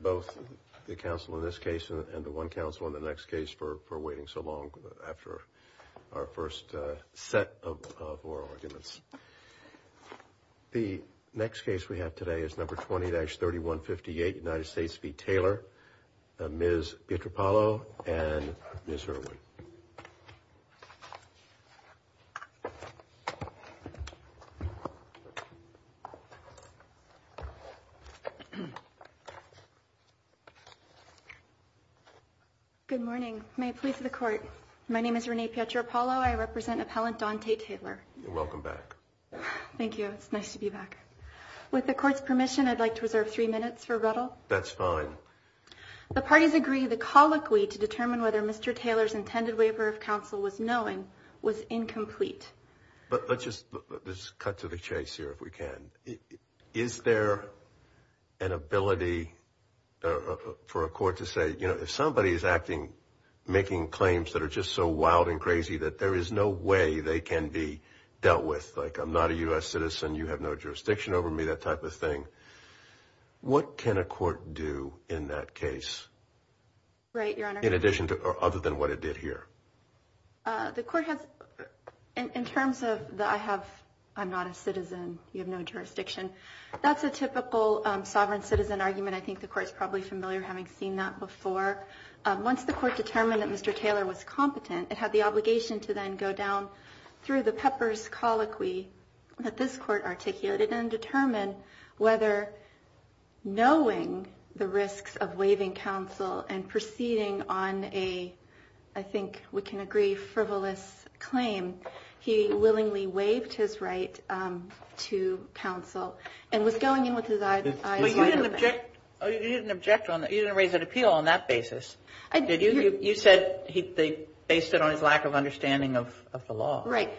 Both the counsel in this case and the one counsel in the next case for waiting so long after our first set of oral arguments. The next case we have today is number 20-3158, United States v. Taylor. Ms. Pietropalo and Ms. Irwin. Good morning. May it please the Court. My name is Renee Pietropalo. I represent Appellant Donte Taylor. Welcome back. Thank you. It's nice to be back. With the Court's permission, I'd like to reserve three minutes for ruddle. That's fine. The parties agree the colloquy to determine whether Mr. Taylor's intended waiver of counsel was knowing was incomplete. But let's just cut to the chase here if we can. Is there an ability for a court to say, you know, if somebody is acting, making claims that are just so wild and crazy that there is no way they can be dealt with, like I'm not a U.S. citizen, you have no jurisdiction over me, that type of thing. What can a court do in that case? Right, Your Honor. In addition to or other than what it did here? The Court has, in terms of the I have, I'm not a citizen, you have no jurisdiction. That's a typical sovereign citizen argument. I think the Court is probably familiar having seen that before. Once the Court determined that Mr. Taylor was competent, it had the obligation to then go down through the Pepper's colloquy that this Court articulated and determine whether knowing the risks of waiving counsel and proceeding on a, I think we can agree, frivolous claim, he willingly waived his right to counsel and was going in with his eyes wide open. But you didn't object on that. You didn't raise an appeal on that basis. You said they based it on his lack of understanding of the law. Right.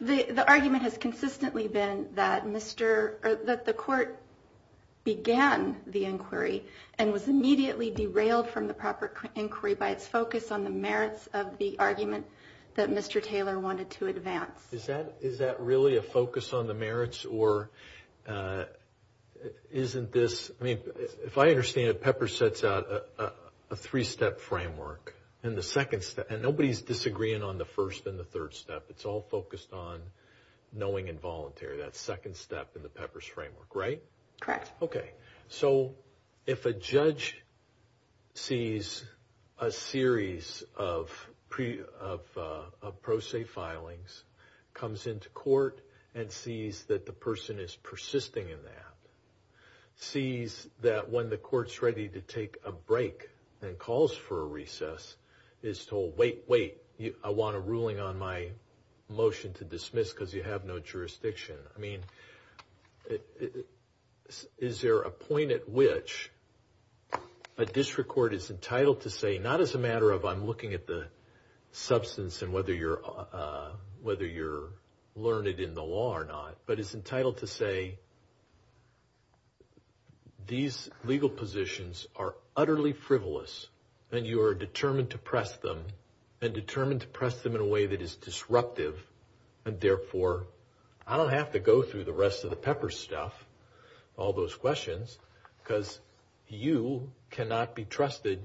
The argument has consistently been that Mr. or that the Court began the inquiry and was immediately derailed from the proper inquiry by its focus on the merits of the argument that Mr. Taylor wanted to advance. Is that really a focus on the merits or isn't this, I mean, if I understand it, Pepper sets out a three-step framework. And nobody's disagreeing on the first and the third step. It's all focused on knowing and voluntary. That second step in the Pepper's framework, right? Correct. Okay. So if a judge sees a series of pro se filings, comes into court, and sees that the person is persisting in that, sees that when the court's ready to take a break and calls for a recess, is told, wait, wait, I want a ruling on my motion to dismiss because you have no jurisdiction. I mean, is there a point at which a district court is entitled to say, not as a matter of I'm looking at the substance and whether you're learned in the law or not, but is entitled to say these legal positions are utterly frivolous and you are determined to press them and determined to press them in a way that is disruptive and, therefore, I don't have to go through the rest of the Pepper stuff, all those questions, because you cannot be trusted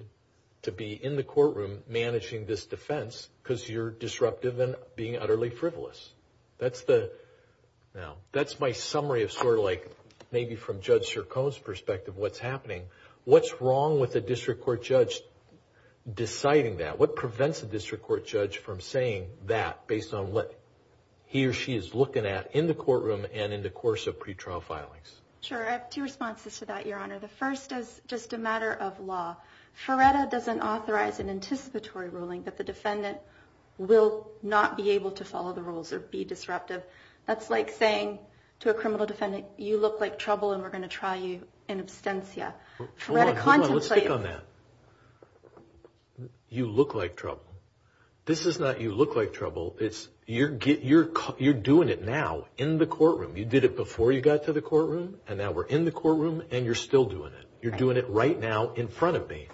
to be in the courtroom managing this defense because you're disruptive and being utterly frivolous. Now, that's my summary of sort of like maybe from Judge Sircone's perspective what's happening. What's wrong with a district court judge deciding that? What prevents a district court judge from saying that based on what he or she is looking at in the courtroom and in the course of pretrial filings? Sure. I have two responses to that, Your Honor. The first is just a matter of law. Feretta doesn't authorize an anticipatory ruling that the defendant will not be able to follow the rules or be disruptive. That's like saying to a criminal defendant, you look like trouble and we're going to try you in absentia. Hold on. Hold on. Let's stick on that. You look like trouble. This is not you look like trouble. It's you're doing it now in the courtroom. You did it before you got to the courtroom and now we're in the courtroom and you're still doing it. You're doing it right now in front of me.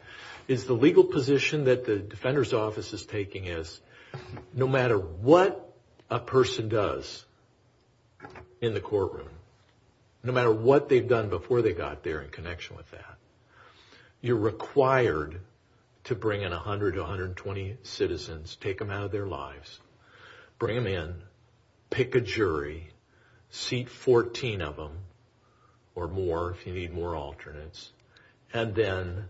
It's the legal position that the defender's office is taking is no matter what a person does in the courtroom, no matter what they've done before they got there in connection with that, you're required to bring in 100 to 120 citizens, take them out of their lives, bring them in, pick a jury, seat 14 of them or more if you need more alternates, and then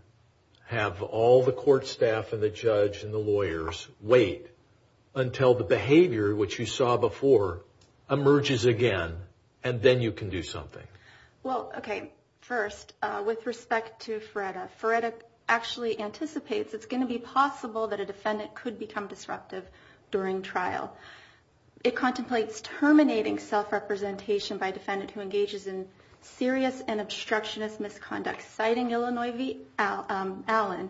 have all the court staff and the judge and the lawyers wait until the behavior, which you saw before, emerges again and then you can do something. Well, okay. First, with respect to Feretta, Feretta actually anticipates it's going to be possible that a defendant could become disruptive during trial. It contemplates terminating self-representation by a defendant who engages in serious and obstructionist misconduct, citing Illinois Allen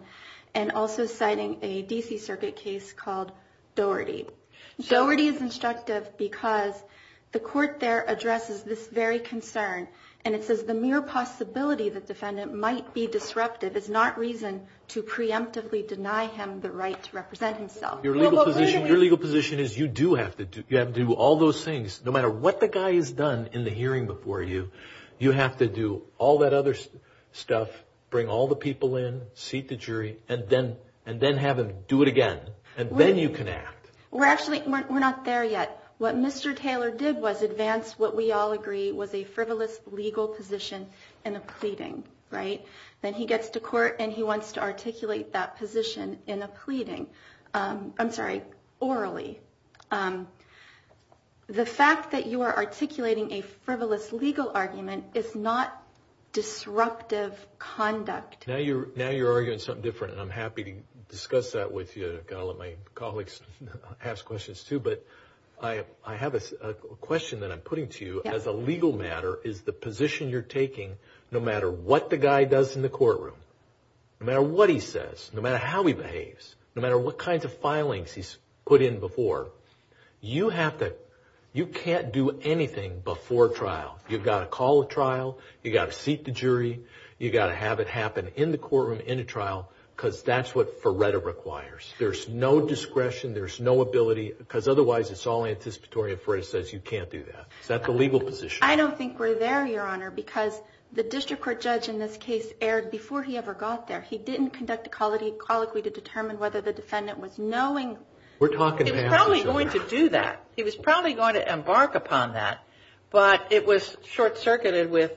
and also citing a D.C. Circuit case called Doherty. Doherty is instructive because the court there addresses this very concern, and it says the mere possibility that defendant might be disruptive is not reason to preemptively deny him the right to represent himself. Your legal position is you do have to do all those things. No matter what the guy has done in the hearing before you, you have to do all that other stuff, bring all the people in, seat the jury, and then have him do it again, and then you can act. We're actually not there yet. What Mr. Taylor did was advance what we all agree was a frivolous legal position in a pleading, right? Then he gets to court, and he wants to articulate that position in a pleading. I'm sorry, orally. The fact that you are articulating a frivolous legal argument is not disruptive conduct. Now you're arguing something different, and I'm happy to discuss that with you. I've got to let my colleagues ask questions too, but I have a question that I'm putting to you. As a legal matter, is the position you're taking, no matter what the guy does in the courtroom, no matter what he says, no matter how he behaves, no matter what kinds of filings he's put in before, you can't do anything before trial. You've got to call a trial. You've got to seat the jury. You've got to have it happen in the courtroom, in a trial, because that's what Ferretta requires. There's no discretion. There's no ability, because otherwise it's all anticipatory, and Ferretta says you can't do that. Is that the legal position? I don't think we're there, Your Honor, because the district court judge in this case erred before he ever got there. He didn't conduct a colloquy to determine whether the defendant was knowing. It was probably going to do that. He was probably going to embark upon that, but it was short-circuited with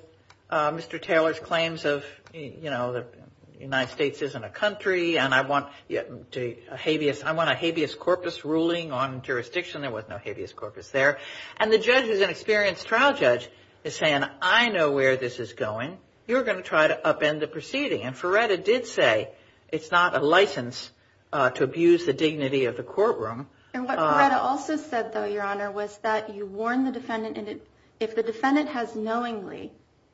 Mr. Taylor's claims of, you know, the United States isn't a country, and I want a habeas corpus ruling on jurisdiction. There was no habeas corpus there. And the judge is an experienced trial judge, is saying, I know where this is going. You're going to try to upend the proceeding. And Ferretta did say it's not a license to abuse the dignity of the courtroom. And what Ferretta also said, though, Your Honor, was that you warn the defendant, and if the defendant has knowingly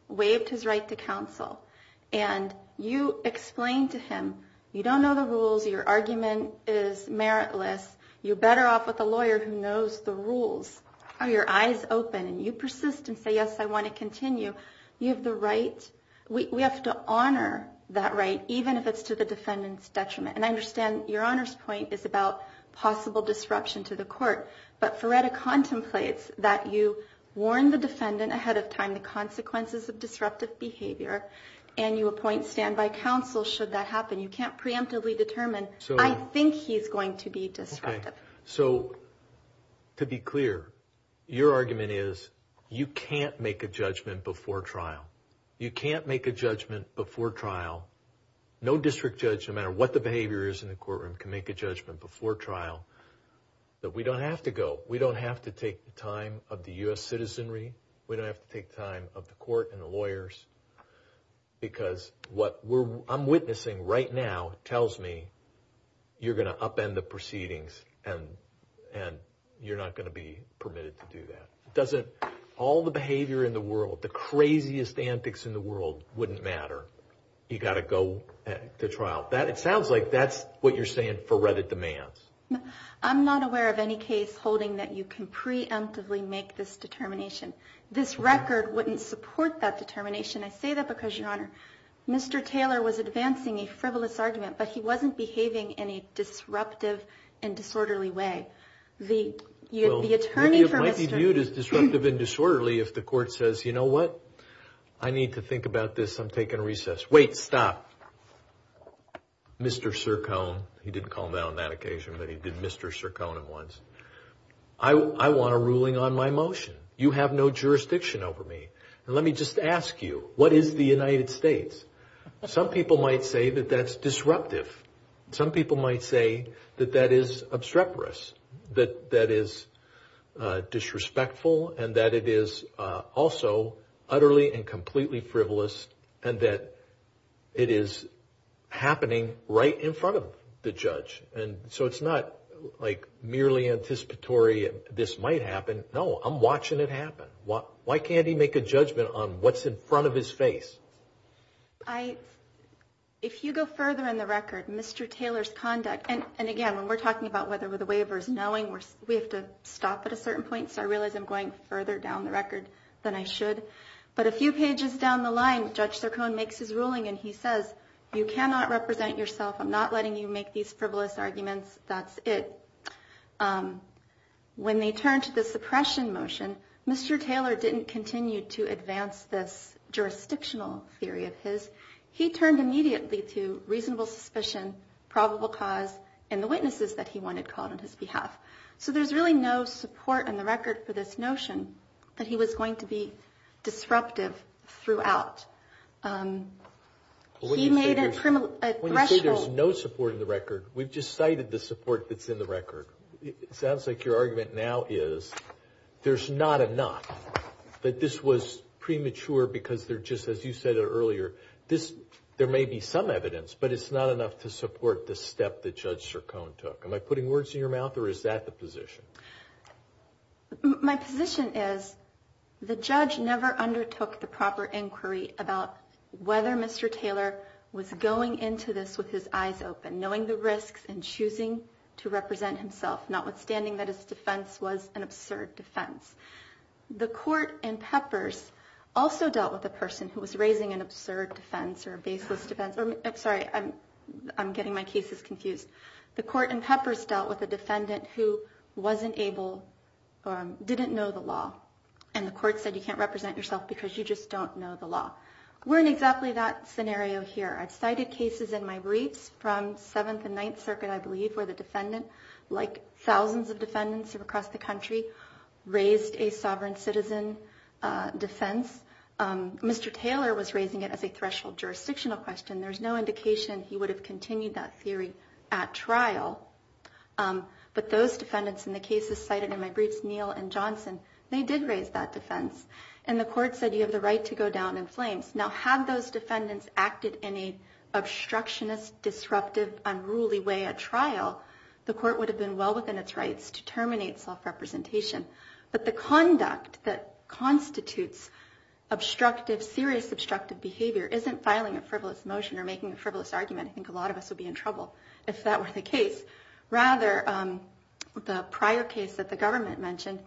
waived his right to counsel, and you explain to him, you don't know the rules, your argument is meritless, you're better off with a lawyer who knows the rules, are your eyes open, and you persist and say, yes, I want to continue, you have the right. We have to honor that right, even if it's to the defendant's detriment. And I understand Your Honor's point is about possible disruption to the court, but Ferretta contemplates that you warn the defendant ahead of time the consequences of disruptive behavior, and you appoint standby counsel should that happen. You can't preemptively determine, I think he's going to be disruptive. So to be clear, your argument is you can't make a judgment before trial. You can't make a judgment before trial. No district judge, no matter what the behavior is in the courtroom, can make a judgment before trial. But we don't have to go. We don't have to take the time of the U.S. citizenry. Because what I'm witnessing right now tells me you're going to upend the proceedings and you're not going to be permitted to do that. Doesn't all the behavior in the world, the craziest antics in the world, wouldn't matter. You've got to go to trial. It sounds like that's what you're saying Ferretta demands. I'm not aware of any case holding that you can preemptively make this determination. This record wouldn't support that determination. I say that because, Your Honor, Mr. Taylor was advancing a frivolous argument, but he wasn't behaving in a disruptive and disorderly way. Well, it might be viewed as disruptive and disorderly if the court says, you know what, I need to think about this. I'm taking a recess. Wait, stop. Mr. Sircone, he didn't call me on that occasion, but he did Mr. Sircone him once. I want a ruling on my motion. You have no jurisdiction over me. And let me just ask you, what is the United States? Some people might say that that's disruptive. Some people might say that that is obstreperous, that that is disrespectful and that it is also utterly and completely frivolous and that it is happening right in front of the judge. And so it's not like merely anticipatory this might happen. No, I'm watching it happen. Why can't he make a judgment on what's in front of his face? If you go further in the record, Mr. Taylor's conduct, and again, when we're talking about whether the waiver is knowing, we have to stop at a certain point, so I realize I'm going further down the record than I should. But a few pages down the line, Judge Sircone makes his ruling, and he says, you cannot represent yourself. I'm not letting you make these frivolous arguments. That's it. When they turned to the suppression motion, Mr. Taylor didn't continue to advance this jurisdictional theory of his. He turned immediately to reasonable suspicion, probable cause, and the witnesses that he wanted called on his behalf. So there's really no support in the record for this notion that he was going to be disruptive throughout. He made a threshold. When you say there's no support in the record, we've just cited the support that's in the record. It sounds like your argument now is there's not enough, that this was premature because they're just, as you said earlier, there may be some evidence, but it's not enough to support the step that Judge Sircone took. Am I putting words in your mouth, or is that the position? My position is the judge never undertook the proper inquiry about whether Mr. Taylor was going into this with his eyes open, knowing the risks, and choosing to represent himself, notwithstanding that his defense was an absurd defense. The court in Peppers also dealt with a person who was raising an absurd defense or a baseless defense. I'm sorry, I'm getting my cases confused. The court in Peppers dealt with a defendant who wasn't able or didn't know the law, and the court said you can't represent yourself because you just don't know the law. We're in exactly that scenario here. I've cited cases in my briefs from Seventh and Ninth Circuit, I believe, where the defendant, like thousands of defendants across the country, raised a sovereign citizen defense. Mr. Taylor was raising it as a threshold jurisdictional question. There's no indication he would have continued that theory at trial, but those defendants in the cases cited in my briefs, Neal and Johnson, they did raise that defense, and the court said you have the right to go down in flames. Now had those defendants acted in an obstructionist, disruptive, unruly way at trial, the court would have been well within its rights to terminate self-representation. But the conduct that constitutes serious obstructive behavior isn't filing a frivolous motion or making a frivolous argument. I think a lot of us would be in trouble if that were the case. Rather, the prior case that the government mentioned,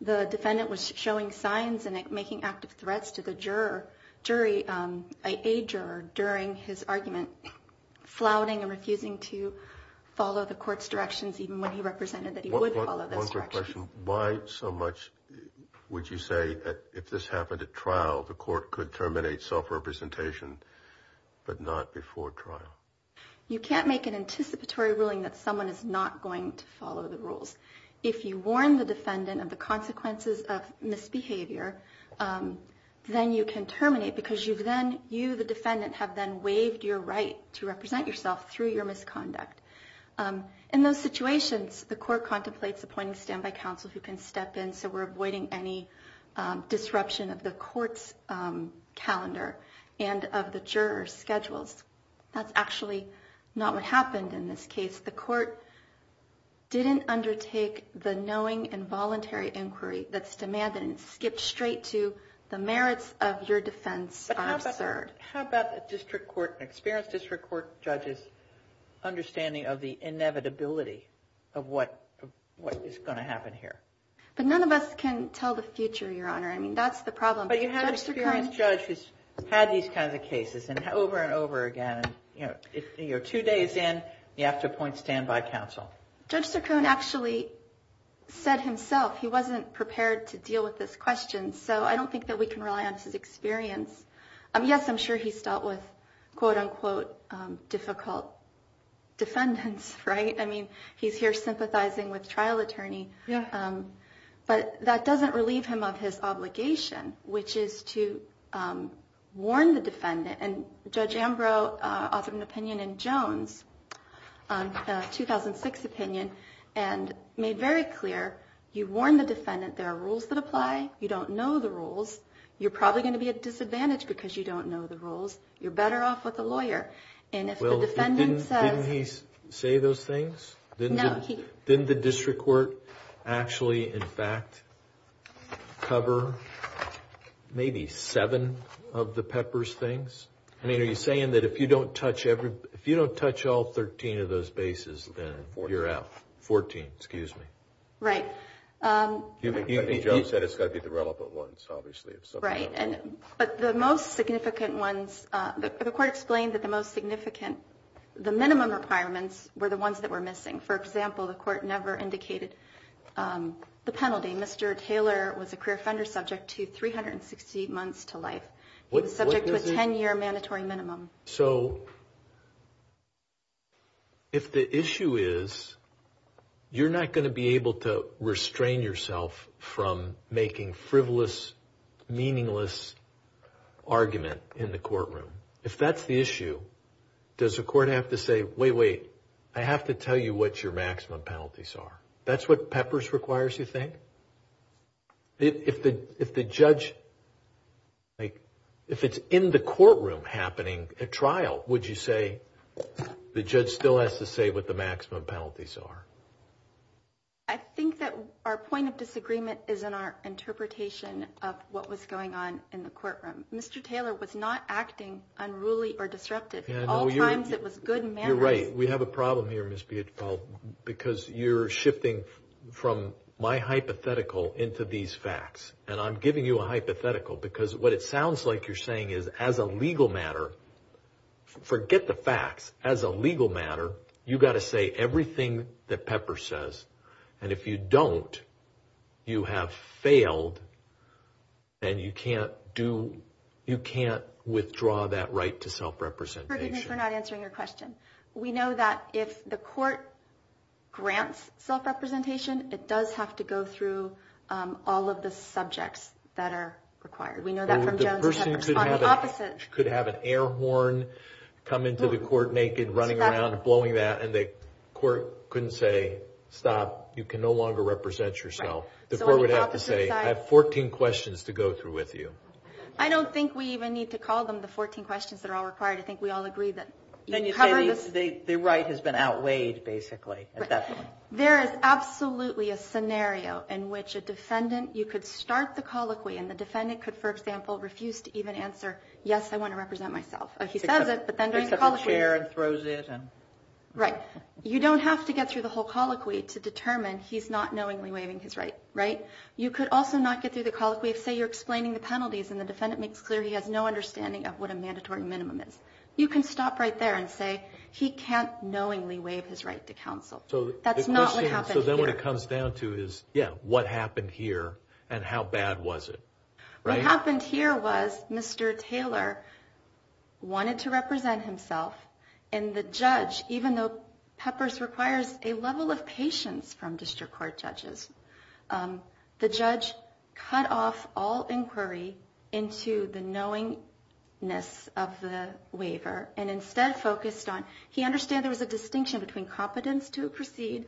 the defendant was showing signs and making active threats to the jury, a juror, during his argument, flouting and refusing to follow the court's directions, even when he represented that he would follow those directions. One quick question. Why so much would you say that if this happened at trial, the court could terminate self-representation, but not before trial? You can't make an anticipatory ruling that someone is not going to follow the rules. If you warn the defendant of the consequences of misbehavior, then you can terminate because you, the defendant, have then waived your right to represent yourself through your misconduct. In those situations, the court contemplates appointing standby counsel who can step in so we're avoiding any disruption of the court's calendar and of the juror's schedules. That's actually not what happened in this case. The court didn't undertake the knowing and voluntary inquiry that's demanded and skipped straight to the merits of your defense are absurd. How about a district court, an experienced district court judge's understanding of the inevitability of what is going to happen here? But none of us can tell the future, Your Honor. I mean, that's the problem. But you have an experienced judge who's had these kinds of cases over and over again. Two days in, you have to appoint standby counsel. Judge Saccone actually said himself he wasn't prepared to deal with this question, so I don't think that we can rely on his experience. Yes, I'm sure he's dealt with, quote, unquote, difficult defendants, right? I mean, he's here sympathizing with trial attorney. But that doesn't relieve him of his obligation, which is to warn the defendant. And Judge Ambrose authored an opinion in Jones, a 2006 opinion, and made very clear you warn the defendant there are rules that apply. You don't know the rules. You're probably going to be at a disadvantage because you don't know the rules. You're better off with a lawyer. And if the defendant says – Well, didn't he say those things? No, he – I mean, are you saying that if you don't touch every – if you don't touch all 13 of those bases, then you're out? Fourteen. Fourteen, excuse me. Right. I think Jones said it's got to be the relevant ones, obviously. Right. But the most significant ones – the court explained that the most significant – the minimum requirements were the ones that were missing. For example, the court never indicated the penalty. Mr. Taylor was a career offender subject to 360 months to life. He was subject to a 10-year mandatory minimum. So if the issue is you're not going to be able to restrain yourself from making frivolous, meaningless argument in the courtroom, if that's the issue, does the court have to say, wait, wait, I have to tell you what your maximum penalties are? That's what Peppers requires, you think? If the judge – if it's in the courtroom happening at trial, would you say the judge still has to say what the maximum penalties are? I think that our point of disagreement is in our interpretation of what was going on in the courtroom. Mr. Taylor was not acting unruly or disruptive. At all times, it was good manners. You're right. We have a problem here, Ms. Bietefeld, because you're shifting from my hypothetical into these facts. And I'm giving you a hypothetical because what it sounds like you're saying is as a legal matter – forget the facts. As a legal matter, you've got to say everything that Peppers says. And if you don't, you have failed, and you can't do – you can't withdraw that right to self-representation. We're not answering your question. We know that if the court grants self-representation, it does have to go through all of the subjects that are required. We know that from Jones and Peppers. The person could have an air horn come into the court naked, running around, blowing that, and the court couldn't say, stop, you can no longer represent yourself. The court would have to say, I have 14 questions to go through with you. I don't think we even need to call them the 14 questions that are all required. I think we all agree that – Then you say the right has been outweighed, basically, at that point. Right. There is absolutely a scenario in which a defendant – you could start the colloquy and the defendant could, for example, refuse to even answer, yes, I want to represent myself. He says it, but then during the colloquy – Takes up a chair and throws it and – Right. You don't have to get through the whole colloquy to determine he's not knowingly waiving his right. Right? You could also not get through the colloquy if, say, you're explaining the penalties and the defendant makes clear he has no understanding of what a mandatory minimum is. You can stop right there and say, he can't knowingly waive his right to counsel. That's not what happened here. So then what it comes down to is, yeah, what happened here and how bad was it? Right? What happened here was Mr. Taylor wanted to represent himself, and the judge, even though Peppers requires a level of patience from district court judges, the judge cut off all inquiry into the knowingness of the waiver and instead focused on – he understood there was a distinction between competence to proceed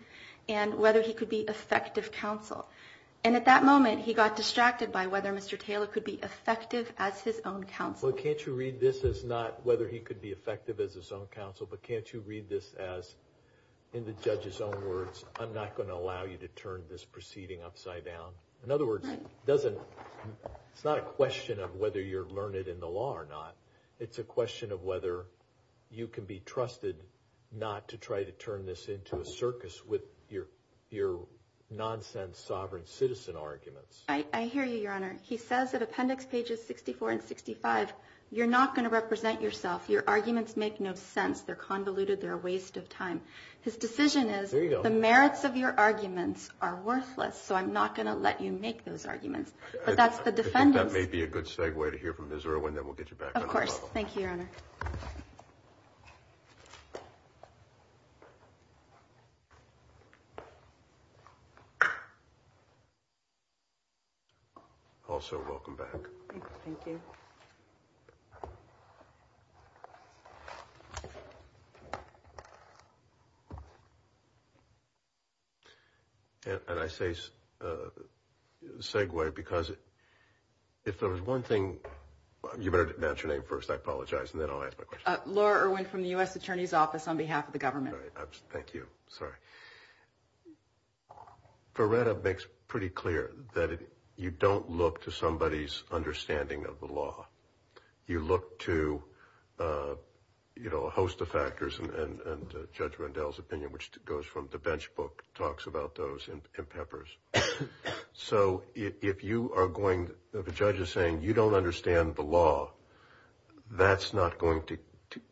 and whether he could be effective counsel. And at that moment he got distracted by whether Mr. Taylor could be effective as his own counsel. Well, can't you read this as not whether he could be effective as his own counsel, but can't you read this as, in the judge's own words, I'm not going to allow you to turn this proceeding upside down? In other words, it's not a question of whether you're learned in the law or not. It's a question of whether you can be trusted not to try to turn this into a circus with your nonsense sovereign citizen arguments. I hear you, Your Honor. He says at appendix pages 64 and 65, you're not going to represent yourself. Your arguments make no sense. They're convoluted. They're a waste of time. His decision is the merits of your arguments are worthless, so I'm not going to let you make those arguments. But that's the defendant's. I think that may be a good segue to hear from Ms. Irwin, then we'll get you back on the level. Of course. Thank you, Your Honor. Also welcome back. Thank you. Thank you. And I say segue because if there was one thing, you better announce your name first. I apologize, and then I'll ask my question. Laura Irwin from the U.S. Attorney's Office on behalf of the government. Thank you. Sorry. Ferreira makes pretty clear that you don't look to somebody's understanding of the law. You look to, you know, a host of factors, and Judge Rendell's opinion, which goes from the bench book, talks about those in peppers. So if you are going, if a judge is saying you don't understand the law, that's not going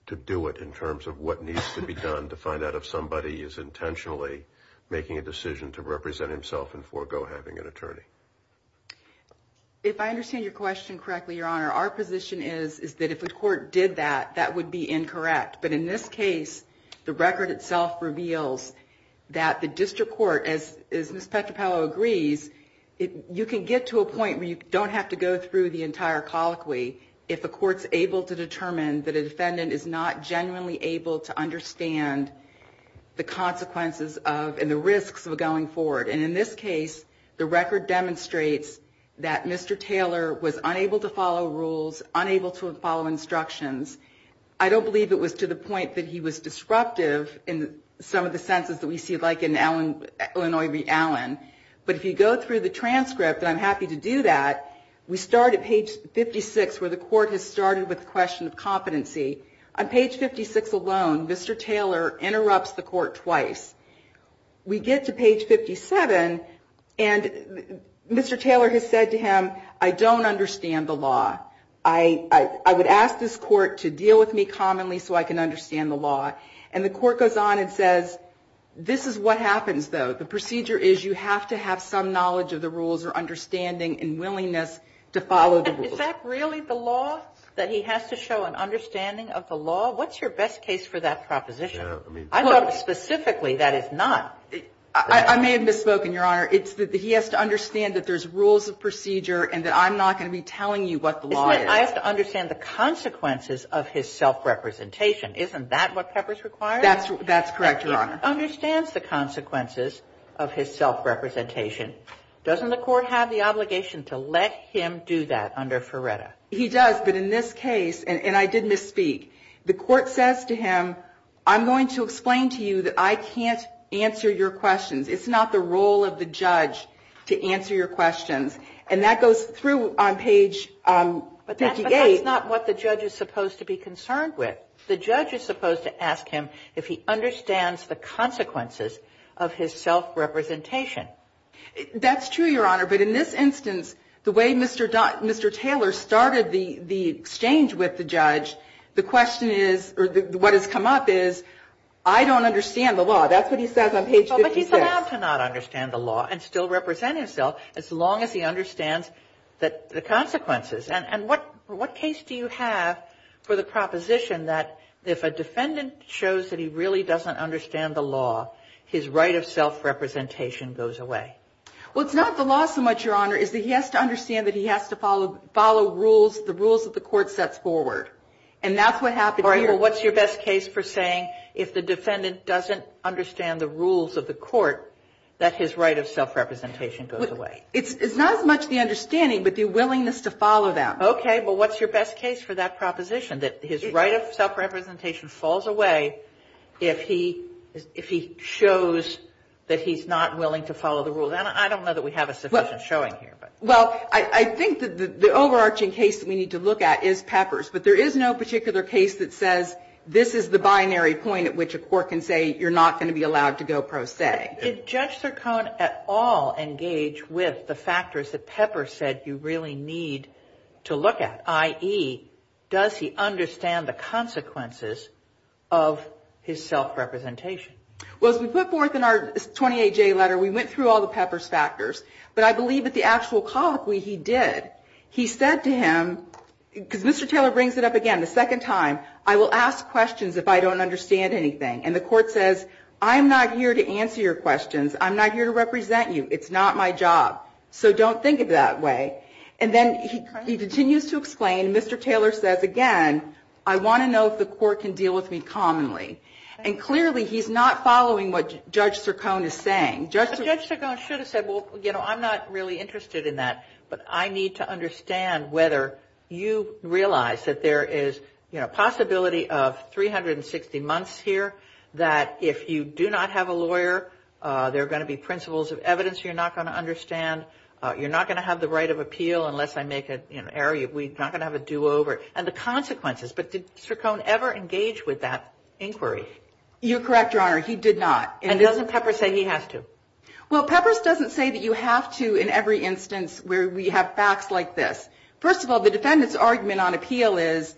to do it in terms of what needs to be done to find out if somebody is intentionally making a decision to represent himself and forego having an attorney. If I understand your question correctly, Your Honor, our position is that if a court did that, that would be incorrect. But in this case, the record itself reveals that the district court, as Ms. Petropavlov agrees, you can get to a point where you don't have to go through the entire colloquy if a court's able to determine that a defendant is not genuinely able to understand the consequences of and the risks of going forward. And in this case, the record demonstrates that Mr. Taylor was unable to follow rules, unable to follow instructions. I don't believe it was to the point that he was disruptive in some of the sentences that we see, like in Illinois v. Allen. But if you go through the transcript, and I'm happy to do that, we start at page 56 where the court has started with the question of competency. On page 56 alone, Mr. Taylor interrupts the court twice. We get to page 57, and Mr. Taylor has said to him, I don't understand the law. I would ask this court to deal with me commonly so I can understand the law. And the court goes on and says, this is what happens, though. The procedure is you have to have some knowledge of the rules or understanding and willingness to follow the rules. And is that really the law, that he has to show an understanding of the law? What's your best case for that proposition? I thought specifically that is not. I may have misspoken, Your Honor. It's that he has to understand that there's rules of procedure and that I'm not going to be telling you what the law is. I have to understand the consequences of his self-representation. Isn't that what Pepper's required? That's correct, Your Honor. He understands the consequences of his self-representation. Doesn't the court have the obligation to let him do that under Ferretta? He does. But in this case, and I did misspeak, the court says to him, I'm going to explain to you that I can't answer your questions. It's not the role of the judge to answer your questions. And that goes through on page 58. But that's not what the judge is supposed to be concerned with. The judge is supposed to ask him if he understands the consequences of his self-representation. That's true, Your Honor. But in this instance, the way Mr. Taylor started the exchange with the judge, the question is, or what has come up is, I don't understand the law. That's what he says on page 56. But he's allowed to not understand the law and still represent himself as long as he understands the consequences. And what case do you have for the proposition that if a defendant shows that he really doesn't understand the law, his right of self-representation goes away? Well, it's not the law so much, Your Honor, is that he has to understand that he has to follow rules, the rules that the court sets forward. And that's what happened here. All right, well, what's your best case for saying if the defendant doesn't understand the rules of the court, that his right of self-representation goes away? It's not as much the understanding, but the willingness to follow them. Okay, but what's your best case for that proposition, that his right of self-representation falls away if he shows that he's not willing to follow the rules? And I don't know that we have a sufficient showing here. Well, I think that the overarching case that we need to look at is Peppers. But there is no particular case that says this is the binary point at which a court can say you're not going to be allowed to go pro se. Did Judge Sircone at all engage with the factors that Peppers said you really need to look at, i.e., does he understand the consequences of his self-representation? Well, as we put forth in our 28J letter, we went through all the Peppers factors. But I believe that the actual colloquy he did, he said to him, because Mr. Taylor brings it up again the second time, I will ask questions if I don't understand anything. And the court says, I'm not here to answer your questions. I'm not here to represent you. It's not my job. So don't think of it that way. And then he continues to explain. And Mr. Taylor says again, I want to know if the court can deal with me commonly. And clearly he's not following what Judge Sircone is saying. But Judge Sircone should have said, well, you know, I'm not really interested in that, but I need to understand whether you realize that there is, you know, the possibility of 360 months here that if you do not have a lawyer, there are going to be principles of evidence you're not going to understand. You're not going to have the right of appeal unless I make an error. We're not going to have a do-over. And the consequences. But did Sircone ever engage with that inquiry? You're correct, Your Honor. He did not. And doesn't Peppers say he has to? Well, Peppers doesn't say that you have to in every instance where we have facts like this. First of all, the defendant's argument on appeal is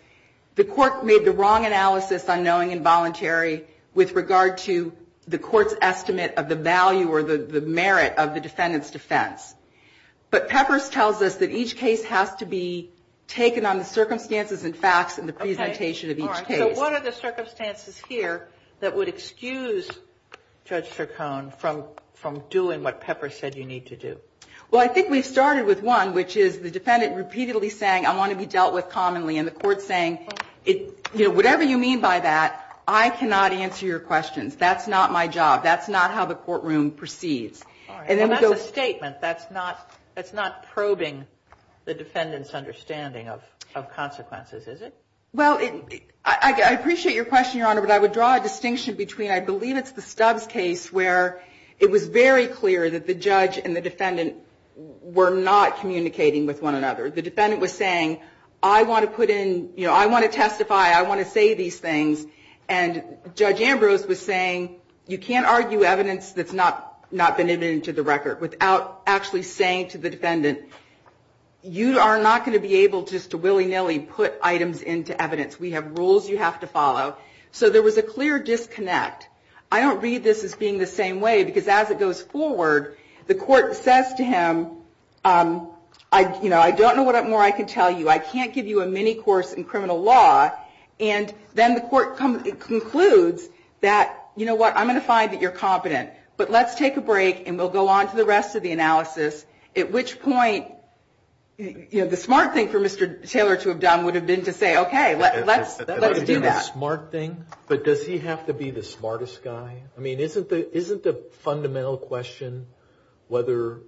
the court made the wrong analysis on knowing involuntary with regard to the court's estimate of the value or the merit of the defendant's defense. But Peppers tells us that each case has to be taken on the circumstances and facts in the presentation of each case. Okay. All right. So what are the circumstances here that would excuse Judge Sircone from doing what Peppers said you need to do? Well, I think we've started with one, which is the defendant repeatedly saying, I want to be dealt with commonly. And the court's saying, you know, whatever you mean by that, I cannot answer your questions. That's not my job. That's not how the courtroom proceeds. All right. Well, that's a statement. That's not probing the defendant's understanding of consequences, is it? Well, I appreciate your question, Your Honor. But I would draw a distinction between I believe it's the Stubbs case where it was very clear that the judge and the defendant were not communicating with one another. The defendant was saying, I want to put in, you know, I want to testify. I want to say these things. And Judge Ambrose was saying, you can't argue evidence that's not been admitted to the record without actually saying to the defendant, you are not going to be able just to willy-nilly put items into evidence. We have rules you have to follow. So there was a clear disconnect. I don't read this as being the same way because as it goes forward, the court says to him, you know, I don't know what more I can tell you. I can't give you a mini course in criminal law. And then the court concludes that, you know what, I'm going to find that you're competent. But let's take a break and we'll go on to the rest of the analysis, at which point, you know, the smart thing for Mr. Taylor to have done would have been to say, okay, let's do that. The smart thing? But does he have to be the smartest guy? I mean, isn't the fundamental question whether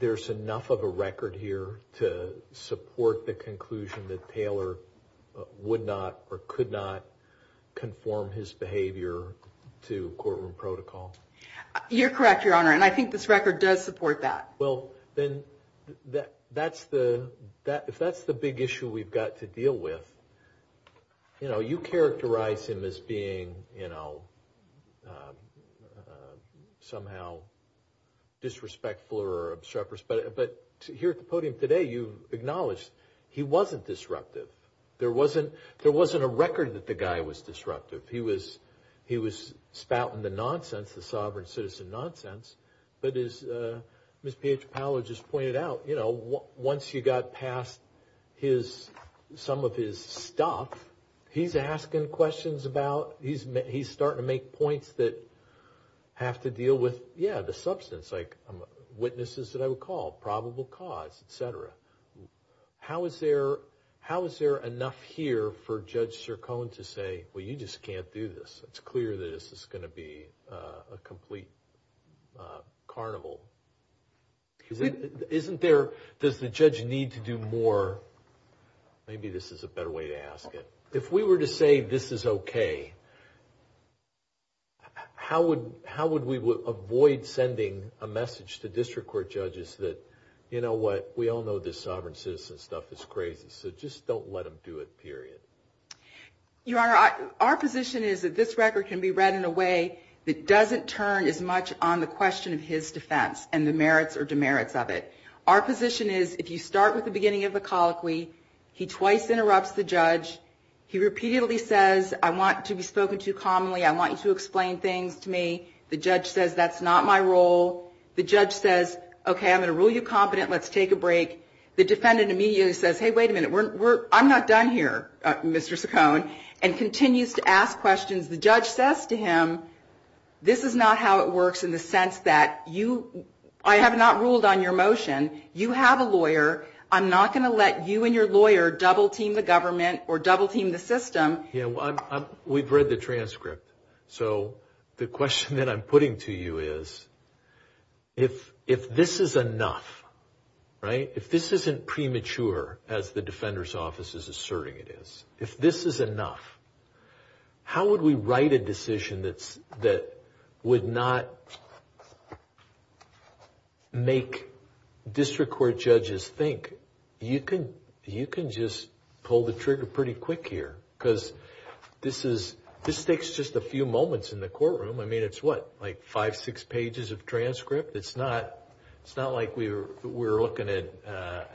there's enough of a record here to support the conclusion that Taylor would not or could not conform his behavior to courtroom protocol? You're correct, Your Honor, and I think this record does support that. Well, then if that's the big issue we've got to deal with, you know, you characterize him as being, you know, somehow disrespectful or obstreperous. But here at the podium today, you've acknowledged he wasn't disruptive. There wasn't a record that the guy was disruptive. He was spouting the nonsense, the sovereign citizen nonsense. But as Ms. Pietropalo just pointed out, you know, once you got past some of his stuff, he's asking questions about, he's starting to make points that have to deal with, yeah, the substance, like witnesses that I would call, probable cause, et cetera. How is there enough here for Judge Sircone to say, well, you just can't do this. It's clear that this is going to be a complete carnival. Isn't there, does the judge need to do more? Maybe this is a better way to ask it. If we were to say this is okay, how would we avoid sending a message to district court judges that, you know what, we all know this sovereign citizen stuff is crazy, so just don't let him do it, period. Your Honor, our position is that this record can be read in a way that doesn't turn as much on the question of his defense and the merits or demerits of it. Our position is if you start with the beginning of the colloquy, he twice interrupts the judge. He repeatedly says, I want to be spoken to commonly. I want you to explain things to me. The judge says that's not my role. The judge says, okay, I'm going to rule you competent. Let's take a break. The defendant immediately says, hey, wait a minute, I'm not done here, Mr. Saccone, and continues to ask questions. The judge says to him, this is not how it works in the sense that I have not ruled on your motion. You have a lawyer. I'm not going to let you and your lawyer double team the government or double team the system. Yeah, we've read the transcript, so the question that I'm putting to you is, if this is enough, right, if this isn't premature, as the defender's office is asserting it is, if this is enough, how would we write a decision that would not make district court judges think, you can just pull the trigger pretty quick here because this takes just a few moments in the courtroom. I mean, it's what, like five, six pages of transcript? It's not like we're looking at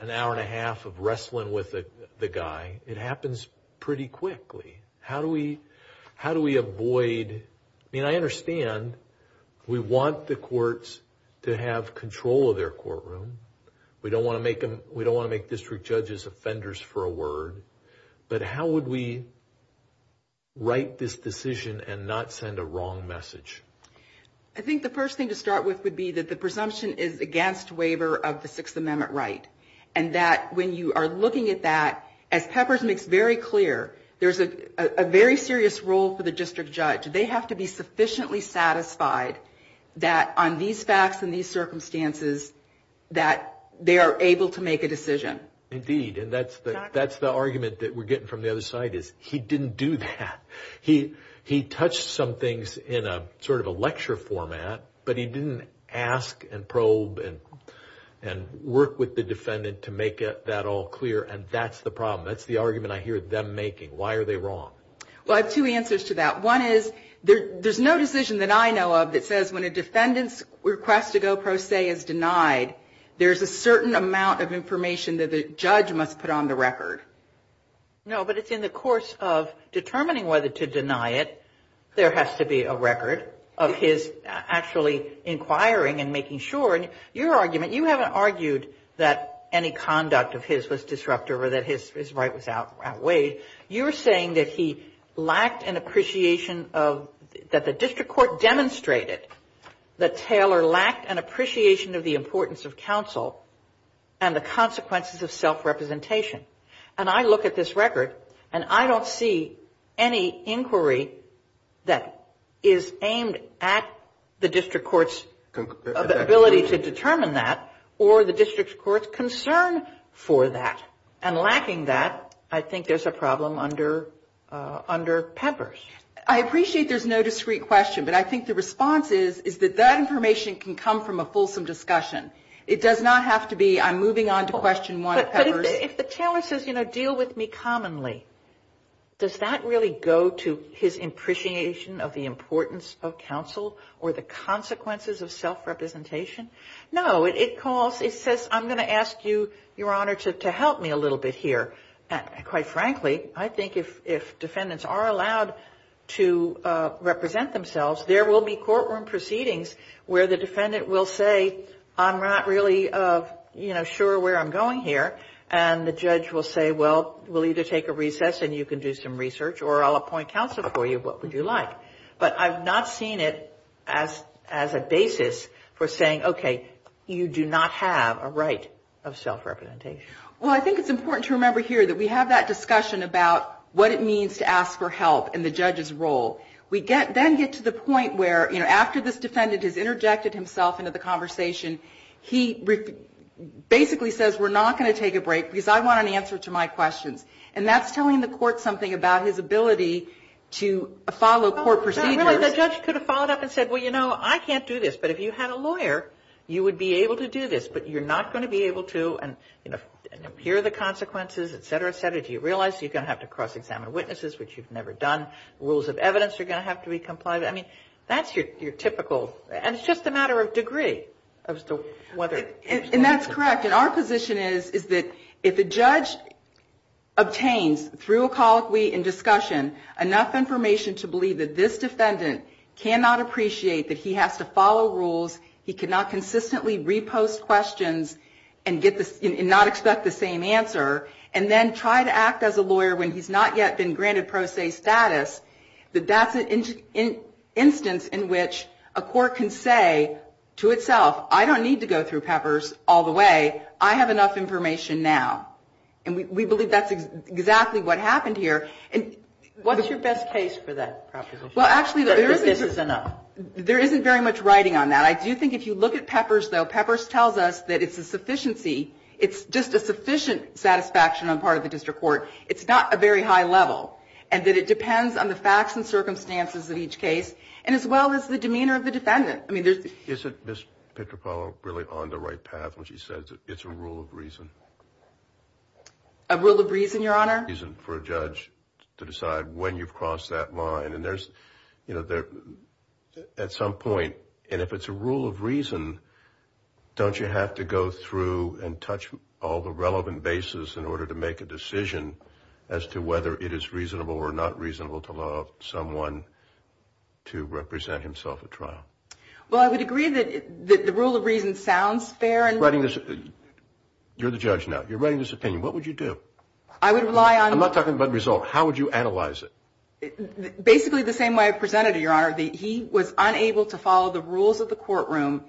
an hour and a half of wrestling with the guy. It happens pretty quickly. How do we avoid, I mean, I understand we want the courts to have control of their courtroom. We don't want to make district judges offenders for a word, but how would we write this decision and not send a wrong message? I think the first thing to start with would be that the presumption is against waiver of the Sixth Amendment right and that when you are looking at that, as Peppers makes very clear, there's a very serious role for the district judge. They have to be sufficiently satisfied that on these facts and these circumstances that they are able to make a decision. Indeed, and that's the argument that we're getting from the other side is he didn't do that. He touched some things in sort of a lecture format, but he didn't ask and probe and work with the defendant to make that all clear, and that's the problem. That's the argument I hear them making. Why are they wrong? Well, I have two answers to that. One is there's no decision that I know of that says when a defendant's request to go pro se is denied, there's a certain amount of information that the judge must put on the record. No, but it's in the course of determining whether to deny it, there has to be a record of his actually inquiring and making sure. Your argument, you haven't argued that any conduct of his was disruptive or that his right was outweighed. You're saying that he lacked an appreciation of, that the district court demonstrated that Taylor lacked an appreciation of the importance of counsel and the consequences of self-representation. And I look at this record, and I don't see any inquiry that is aimed at the district court's ability to determine that or the district court's concern for that. And lacking that, I think there's a problem under Peppers. I appreciate there's no discrete question, but I think the response is, is that that information can come from a fulsome discussion. It does not have to be, I'm moving on to question one of Peppers. But if the Taylor says, you know, deal with me commonly, does that really go to his appreciation of the importance of counsel or the consequences of self-representation? No, it calls, it says, I'm going to ask you, Your Honor, to help me a little bit here. And quite frankly, I think if defendants are allowed to represent themselves, there will be courtroom proceedings where the defendant will say, I'm not really, you know, sure where I'm going here. And the judge will say, well, we'll either take a recess and you can do some research, or I'll appoint counsel for you, what would you like? But I've not seen it as a basis for saying, okay, you do not have a right of self-representation. Well, I think it's important to remember here that we have that discussion about what it means to ask for help in the judge's role. We then get to the point where, you know, after this defendant has interjected himself into the conversation, he basically says, we're not going to take a break because I want an answer to my questions. And that's telling the court something about his ability to follow court procedures. Really, the judge could have followed up and said, well, you know, I can't do this. But if you had a lawyer, you would be able to do this. But you're not going to be able to, you know, hear the consequences, et cetera, et cetera. Do you realize you're going to have to cross-examine witnesses, which you've never done? Rules of evidence are going to have to be complied with. I mean, that's your typical, and it's just a matter of degree as to whether. And that's correct. And our position is that if a judge obtains, through a colloquy and discussion, enough information to believe that this defendant cannot appreciate that he has to follow rules, he cannot consistently repost questions and not expect the same answer, and then try to act as a lawyer when he's not yet been granted pro se status, that that's an instance in which a court can say to itself, I don't need to go through Peppers all the way. I have enough information now. And we believe that's exactly what happened here. What's your best case for that proposition? Well, actually, there isn't very much writing on that. I do think if you look at Peppers, though, Peppers tells us that it's a sufficiency. It's just a sufficient satisfaction on part of the district court. It's not a very high level. And that it depends on the facts and circumstances of each case, and as well as the demeanor of the defendant. I mean, there's the... Isn't Ms. Pitropalo really on the right path when she says it's a rule of reason? A rule of reason, Your Honor? A rule of reason for a judge to decide when you've crossed that line. And there's, you know, at some point, and if it's a rule of reason, don't you have to go through and touch all the relevant bases in order to make a decision as to whether it is reasonable or not reasonable to allow someone to represent himself at trial? Well, I would agree that the rule of reason sounds fair. You're the judge now. You're writing this opinion. What would you do? I would rely on... I'm not talking about the result. How would you analyze it? Basically the same way I presented it, Your Honor, that he was unable to follow the rules of the courtroom,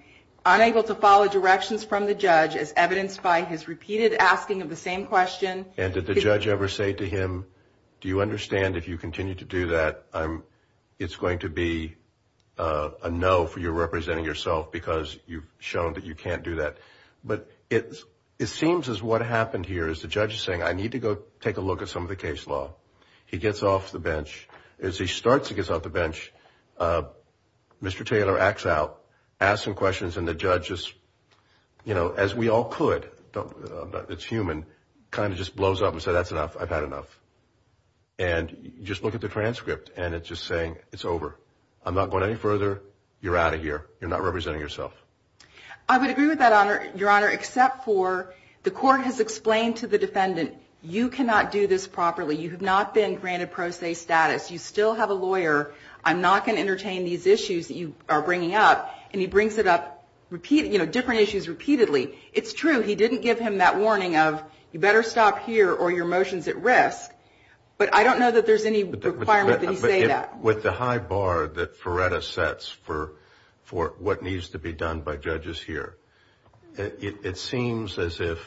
unable to follow directions from the judge as evidenced by his repeated asking of the same question. And did the judge ever say to him, do you understand if you continue to do that, it's going to be a no for you representing yourself because you've shown that you can't do that? But it seems as what happened here is the judge is saying, I need to go take a look at some of the case law. He gets off the bench. As he starts to get off the bench, Mr. Taylor acts out, asks some questions, and the judge just, you know, as we all could, it's human, kind of just blows up and says, that's enough. I've had enough. And you just look at the transcript, and it's just saying, it's over. I'm not going any further. You're out of here. You're not representing yourself. I would agree with that, Your Honor, except for the court has explained to the defendant, you cannot do this properly. You have not been granted pro se status. You still have a lawyer. I'm not going to entertain these issues that you are bringing up. And he brings it up, you know, different issues repeatedly. It's true he didn't give him that warning of, you better stop here or your motion is at risk. But I don't know that there's any requirement that he say that. With the high bar that Ferretta sets for what needs to be done by judges here, it seems as if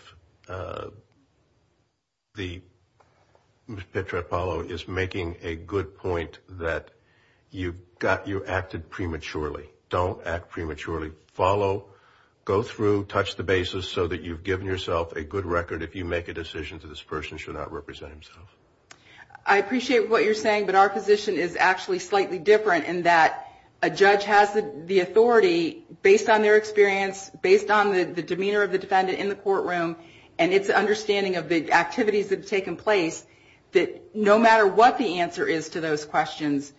Ms. Petropalo is making a good point that you acted prematurely. Don't act prematurely. Follow, go through, touch the bases so that you've given yourself a good record. If you make a decision that this person should not represent himself. I appreciate what you're saying, but our position is actually slightly different in that a judge has the authority, based on their experience, based on the demeanor of the defendant in the courtroom, and its understanding of the activities that have taken place, that no matter what the answer is to those questions,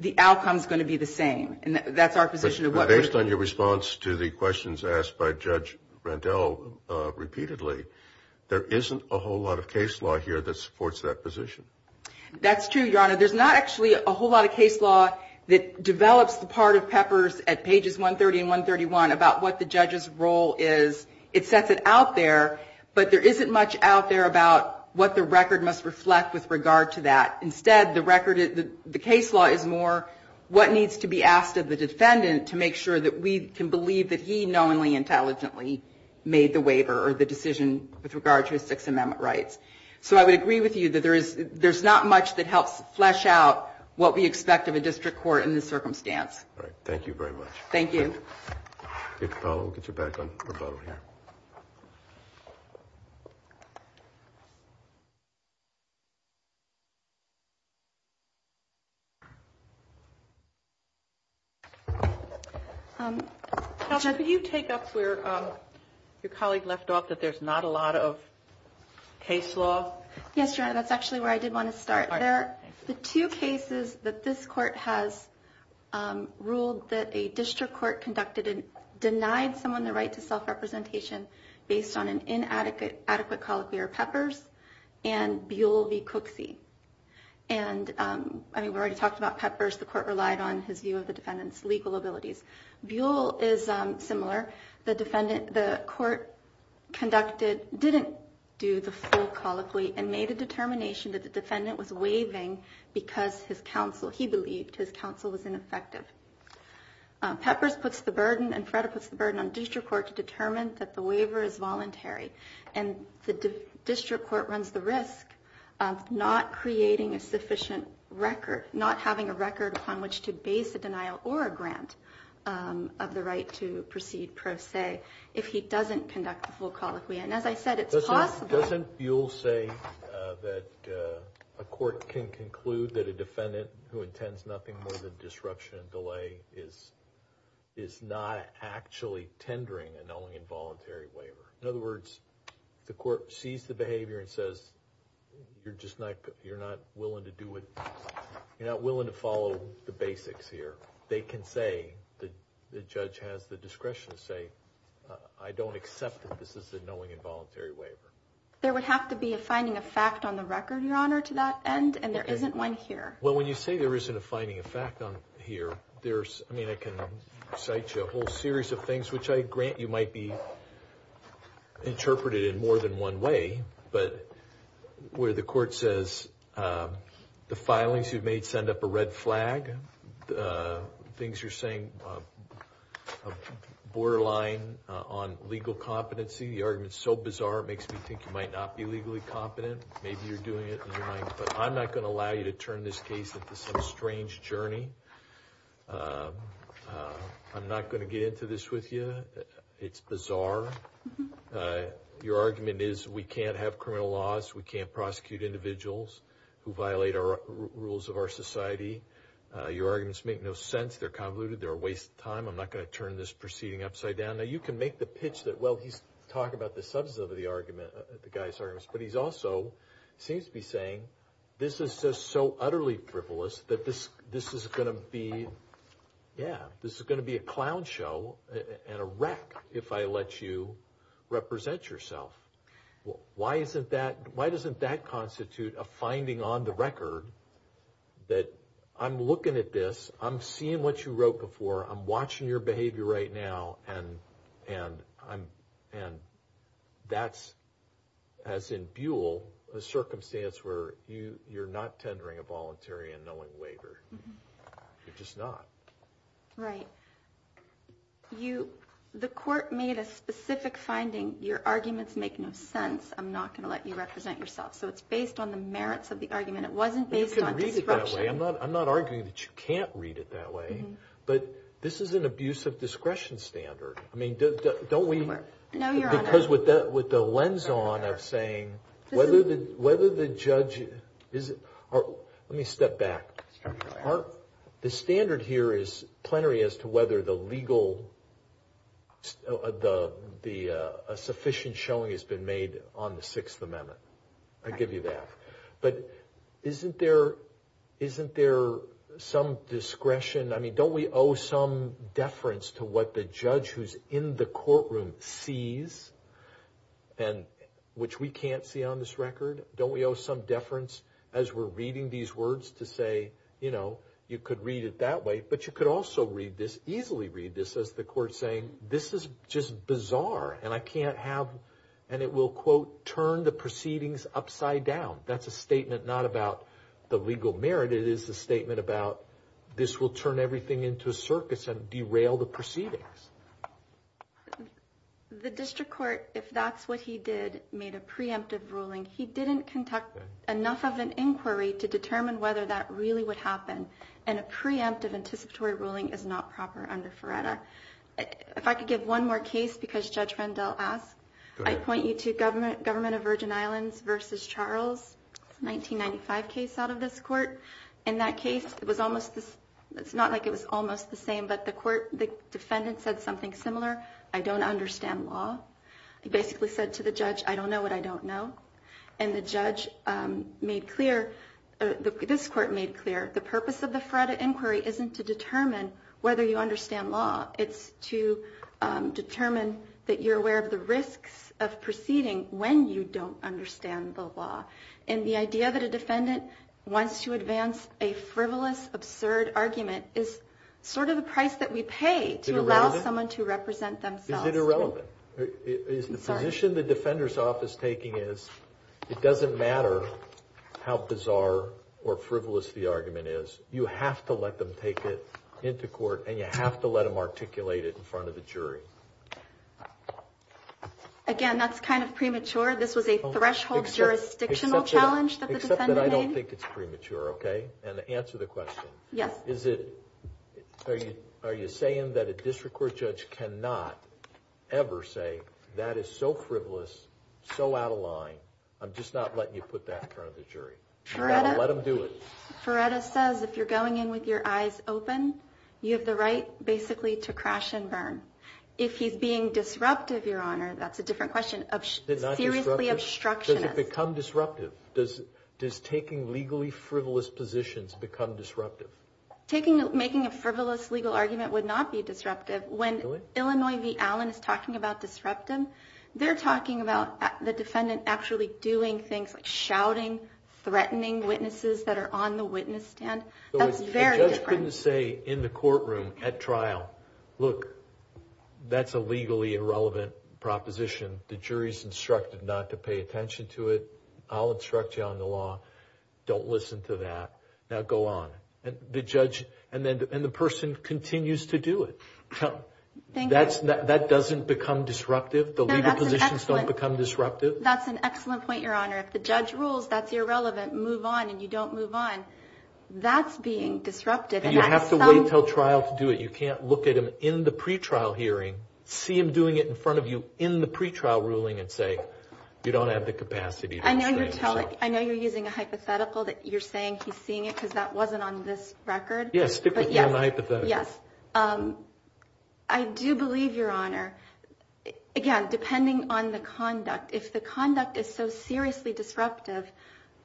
the outcome is going to be the same. And that's our position. Based on your response to the questions asked by Judge Rendell repeatedly, there isn't a whole lot of case law here that supports that position. That's true, Your Honor. There's not actually a whole lot of case law that develops the part of Peppers at pages 130 and 131 about what the judge's role is. It sets it out there, but there isn't much out there about what the record must reflect with regard to that. Instead, the record, the case law is more what needs to be asked of the defendant to make sure that we can believe that he knowingly, intelligently made the waiver or the decision with regard to his Sixth Amendment rights. So I would agree with you that there's not much that helps flesh out what we expect of a district court in this circumstance. All right. Thank you very much. Thank you. We'll get you back on rebuttal here. Counsel, can you take us where your colleague left off, that there's not a lot of case law? Yes, Your Honor. That's actually where I did want to start. The two cases that this court has ruled that a district court conducted and denied someone the right to self-representation based on an inadequate attitude are Peppers and Buell v. Cooksey. We already talked about Peppers. The court relied on his view of the defendant's legal abilities. Buell is similar. The court didn't do the full colloquy and made a determination that the defendant was waiving because he believed his counsel was ineffective. Peppers puts the burden and Freda puts the burden on the district court to determine that the waiver is voluntary. And the district court runs the risk of not creating a sufficient record, not having a record upon which to base a denial or a grant of the right to proceed pro se if he doesn't conduct the full colloquy. And as I said, it's possible— The court can conclude that a defendant who intends nothing more than disruption and delay is not actually tendering a knowing and voluntary waiver. In other words, if the court sees the behavior and says, you're just not willing to do it, you're not willing to follow the basics here, they can say, the judge has the discretion to say, I don't accept that this is a knowing and voluntary waiver. There would have to be a finding of fact on the record, Your Honor, to that end, and there isn't one here. Well, when you say there isn't a finding of fact on here, there's—I mean, I can cite you a whole series of things, which I grant you might be interpreted in more than one way. But where the court says, the filings you've made send up a red flag, things you're saying borderline on legal competency, the argument's so bizarre it makes me think you might not be legally competent. Maybe you're doing it in your mind. But I'm not going to allow you to turn this case into some strange journey. I'm not going to get into this with you. It's bizarre. Your argument is we can't have criminal laws, we can't prosecute individuals who violate the rules of our society. Your arguments make no sense. They're convoluted. They're a waste of time. I'm not going to turn this proceeding upside down. Now, you can make the pitch that, well, he's talking about the substance of the argument, the guy's argument, but he's also seems to be saying this is just so utterly frivolous that this is going to be—yeah, this is going to be a clown show and a wreck if I let you represent yourself. Why isn't that—why doesn't that constitute a finding on the record that I'm looking at this, I'm seeing what you wrote before, I'm watching your behavior right now, and that's, as in Buell, a circumstance where you're not tendering a voluntary and knowing waiver. You're just not. Right. You—the court made a specific finding. Your arguments make no sense. I'm not going to let you represent yourself. So it's based on the merits of the argument. It wasn't based on— You can read it that way. I'm not arguing that you can't read it that way. But this is an abuse of discretion standard. I mean, don't we— No, Your Honor. Because with the lens on of saying whether the judge—let me step back. The standard here is plenary as to whether the legal— a sufficient showing has been made on the Sixth Amendment. I give you that. But isn't there some discretion? I mean, don't we owe some deference to what the judge who's in the courtroom sees, which we can't see on this record? Don't we owe some deference as we're reading these words to say, you know, you could read it that way? But you could also read this, easily read this, as the court's saying, this is just bizarre, and I can't have—and it will, quote, turn the proceedings upside down. That's a statement not about the legal merit. But it is a statement about this will turn everything into a circus and derail the proceedings. The district court, if that's what he did, made a preemptive ruling. He didn't conduct enough of an inquiry to determine whether that really would happen. And a preemptive anticipatory ruling is not proper under Ferretta. If I could give one more case because Judge Randall asked, I point you to Government of Virgin Islands v. Charles, 1995 case out of this court. In that case, it's not like it was almost the same, but the defendant said something similar, I don't understand law. He basically said to the judge, I don't know what I don't know. And the judge made clear, this court made clear, the purpose of the Ferretta inquiry isn't to determine whether you understand law. It's to determine that you're aware of the risks of proceeding when you don't understand the law. And the idea that a defendant wants to advance a frivolous, absurd argument is sort of the price that we pay to allow someone to represent themselves. Is it irrelevant? The position the defender's office is taking is, it doesn't matter how bizarre or frivolous the argument is, you have to let them take it into court and you have to let them articulate it in front of the jury. Again, that's kind of premature. This was a threshold jurisdictional challenge that the defendant made. Except that I don't think it's premature, okay? And to answer the question, are you saying that a district court judge cannot ever say, that is so frivolous, so out of line, I'm just not letting you put that in front of the jury? Let them do it. Ferretta says if you're going in with your eyes open, you have the right basically to crash and burn. If he's being disruptive, Your Honor, that's a different question. Seriously obstructionist. Does it become disruptive? Does taking legally frivolous positions become disruptive? Making a frivolous legal argument would not be disruptive. When Illinois v. Allen is talking about disruptive, they're talking about the defendant actually doing things like shouting, threatening witnesses that are on the witness stand. That's very different. The judge couldn't say in the courtroom at trial, look, that's a legally irrelevant proposition. The jury's instructed not to pay attention to it. I'll instruct you on the law. Don't listen to that. Now go on. And the person continues to do it. That doesn't become disruptive? The legal positions don't become disruptive? That's an excellent point, Your Honor. If the judge rules that's irrelevant, move on, and you don't move on. That's being disruptive. And you have to wait until trial to do it. You can't look at him in the pretrial hearing, see him doing it in front of you in the pretrial ruling, and say you don't have the capacity to restrain yourself. I know you're using a hypothetical that you're saying he's seeing it because that wasn't on this record. Yes, stick with me on the hypothetical. Yes. I do believe, Your Honor, again, depending on the conduct, if the conduct is so seriously disruptive,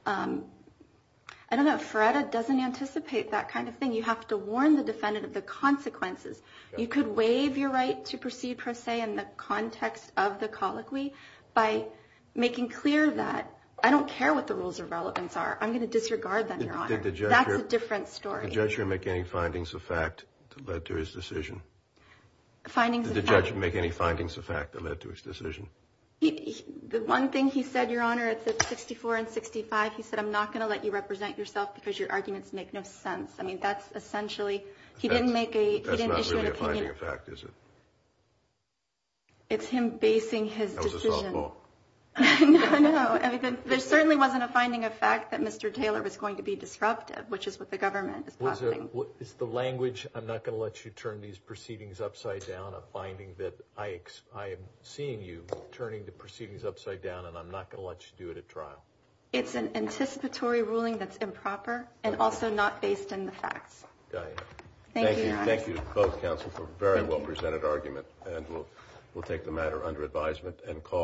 I don't know, FREDA doesn't anticipate that kind of thing. You have to warn the defendant of the consequences. You could waive your right to proceed per se in the context of the colloquy by making clear that I don't care what the rules of relevance are. I'm going to disregard them, Your Honor. That's a different story. Did the judge make any findings of fact that led to his decision? Did the judge make any findings of fact that led to his decision? The one thing he said, Your Honor, at 64 and 65, he said I'm not going to let you represent yourself because your arguments make no sense. I mean, that's essentially he didn't issue an opinion. That's not really a finding of fact, is it? It's him basing his decision. That was a softball. No, no. There certainly wasn't a finding of fact that Mr. Taylor was going to be disruptive, which is what the government is proposing. Is the language I'm not going to let you turn these proceedings upside down a finding that I am seeing you turning the proceedings upside down and I'm not going to let you do it at trial? It's an anticipatory ruling that's improper and also not based in the facts. Got it. Thank you, Your Honor. Thank you to both counsel for a very well presented argument, and we'll take the matter under advisement and call.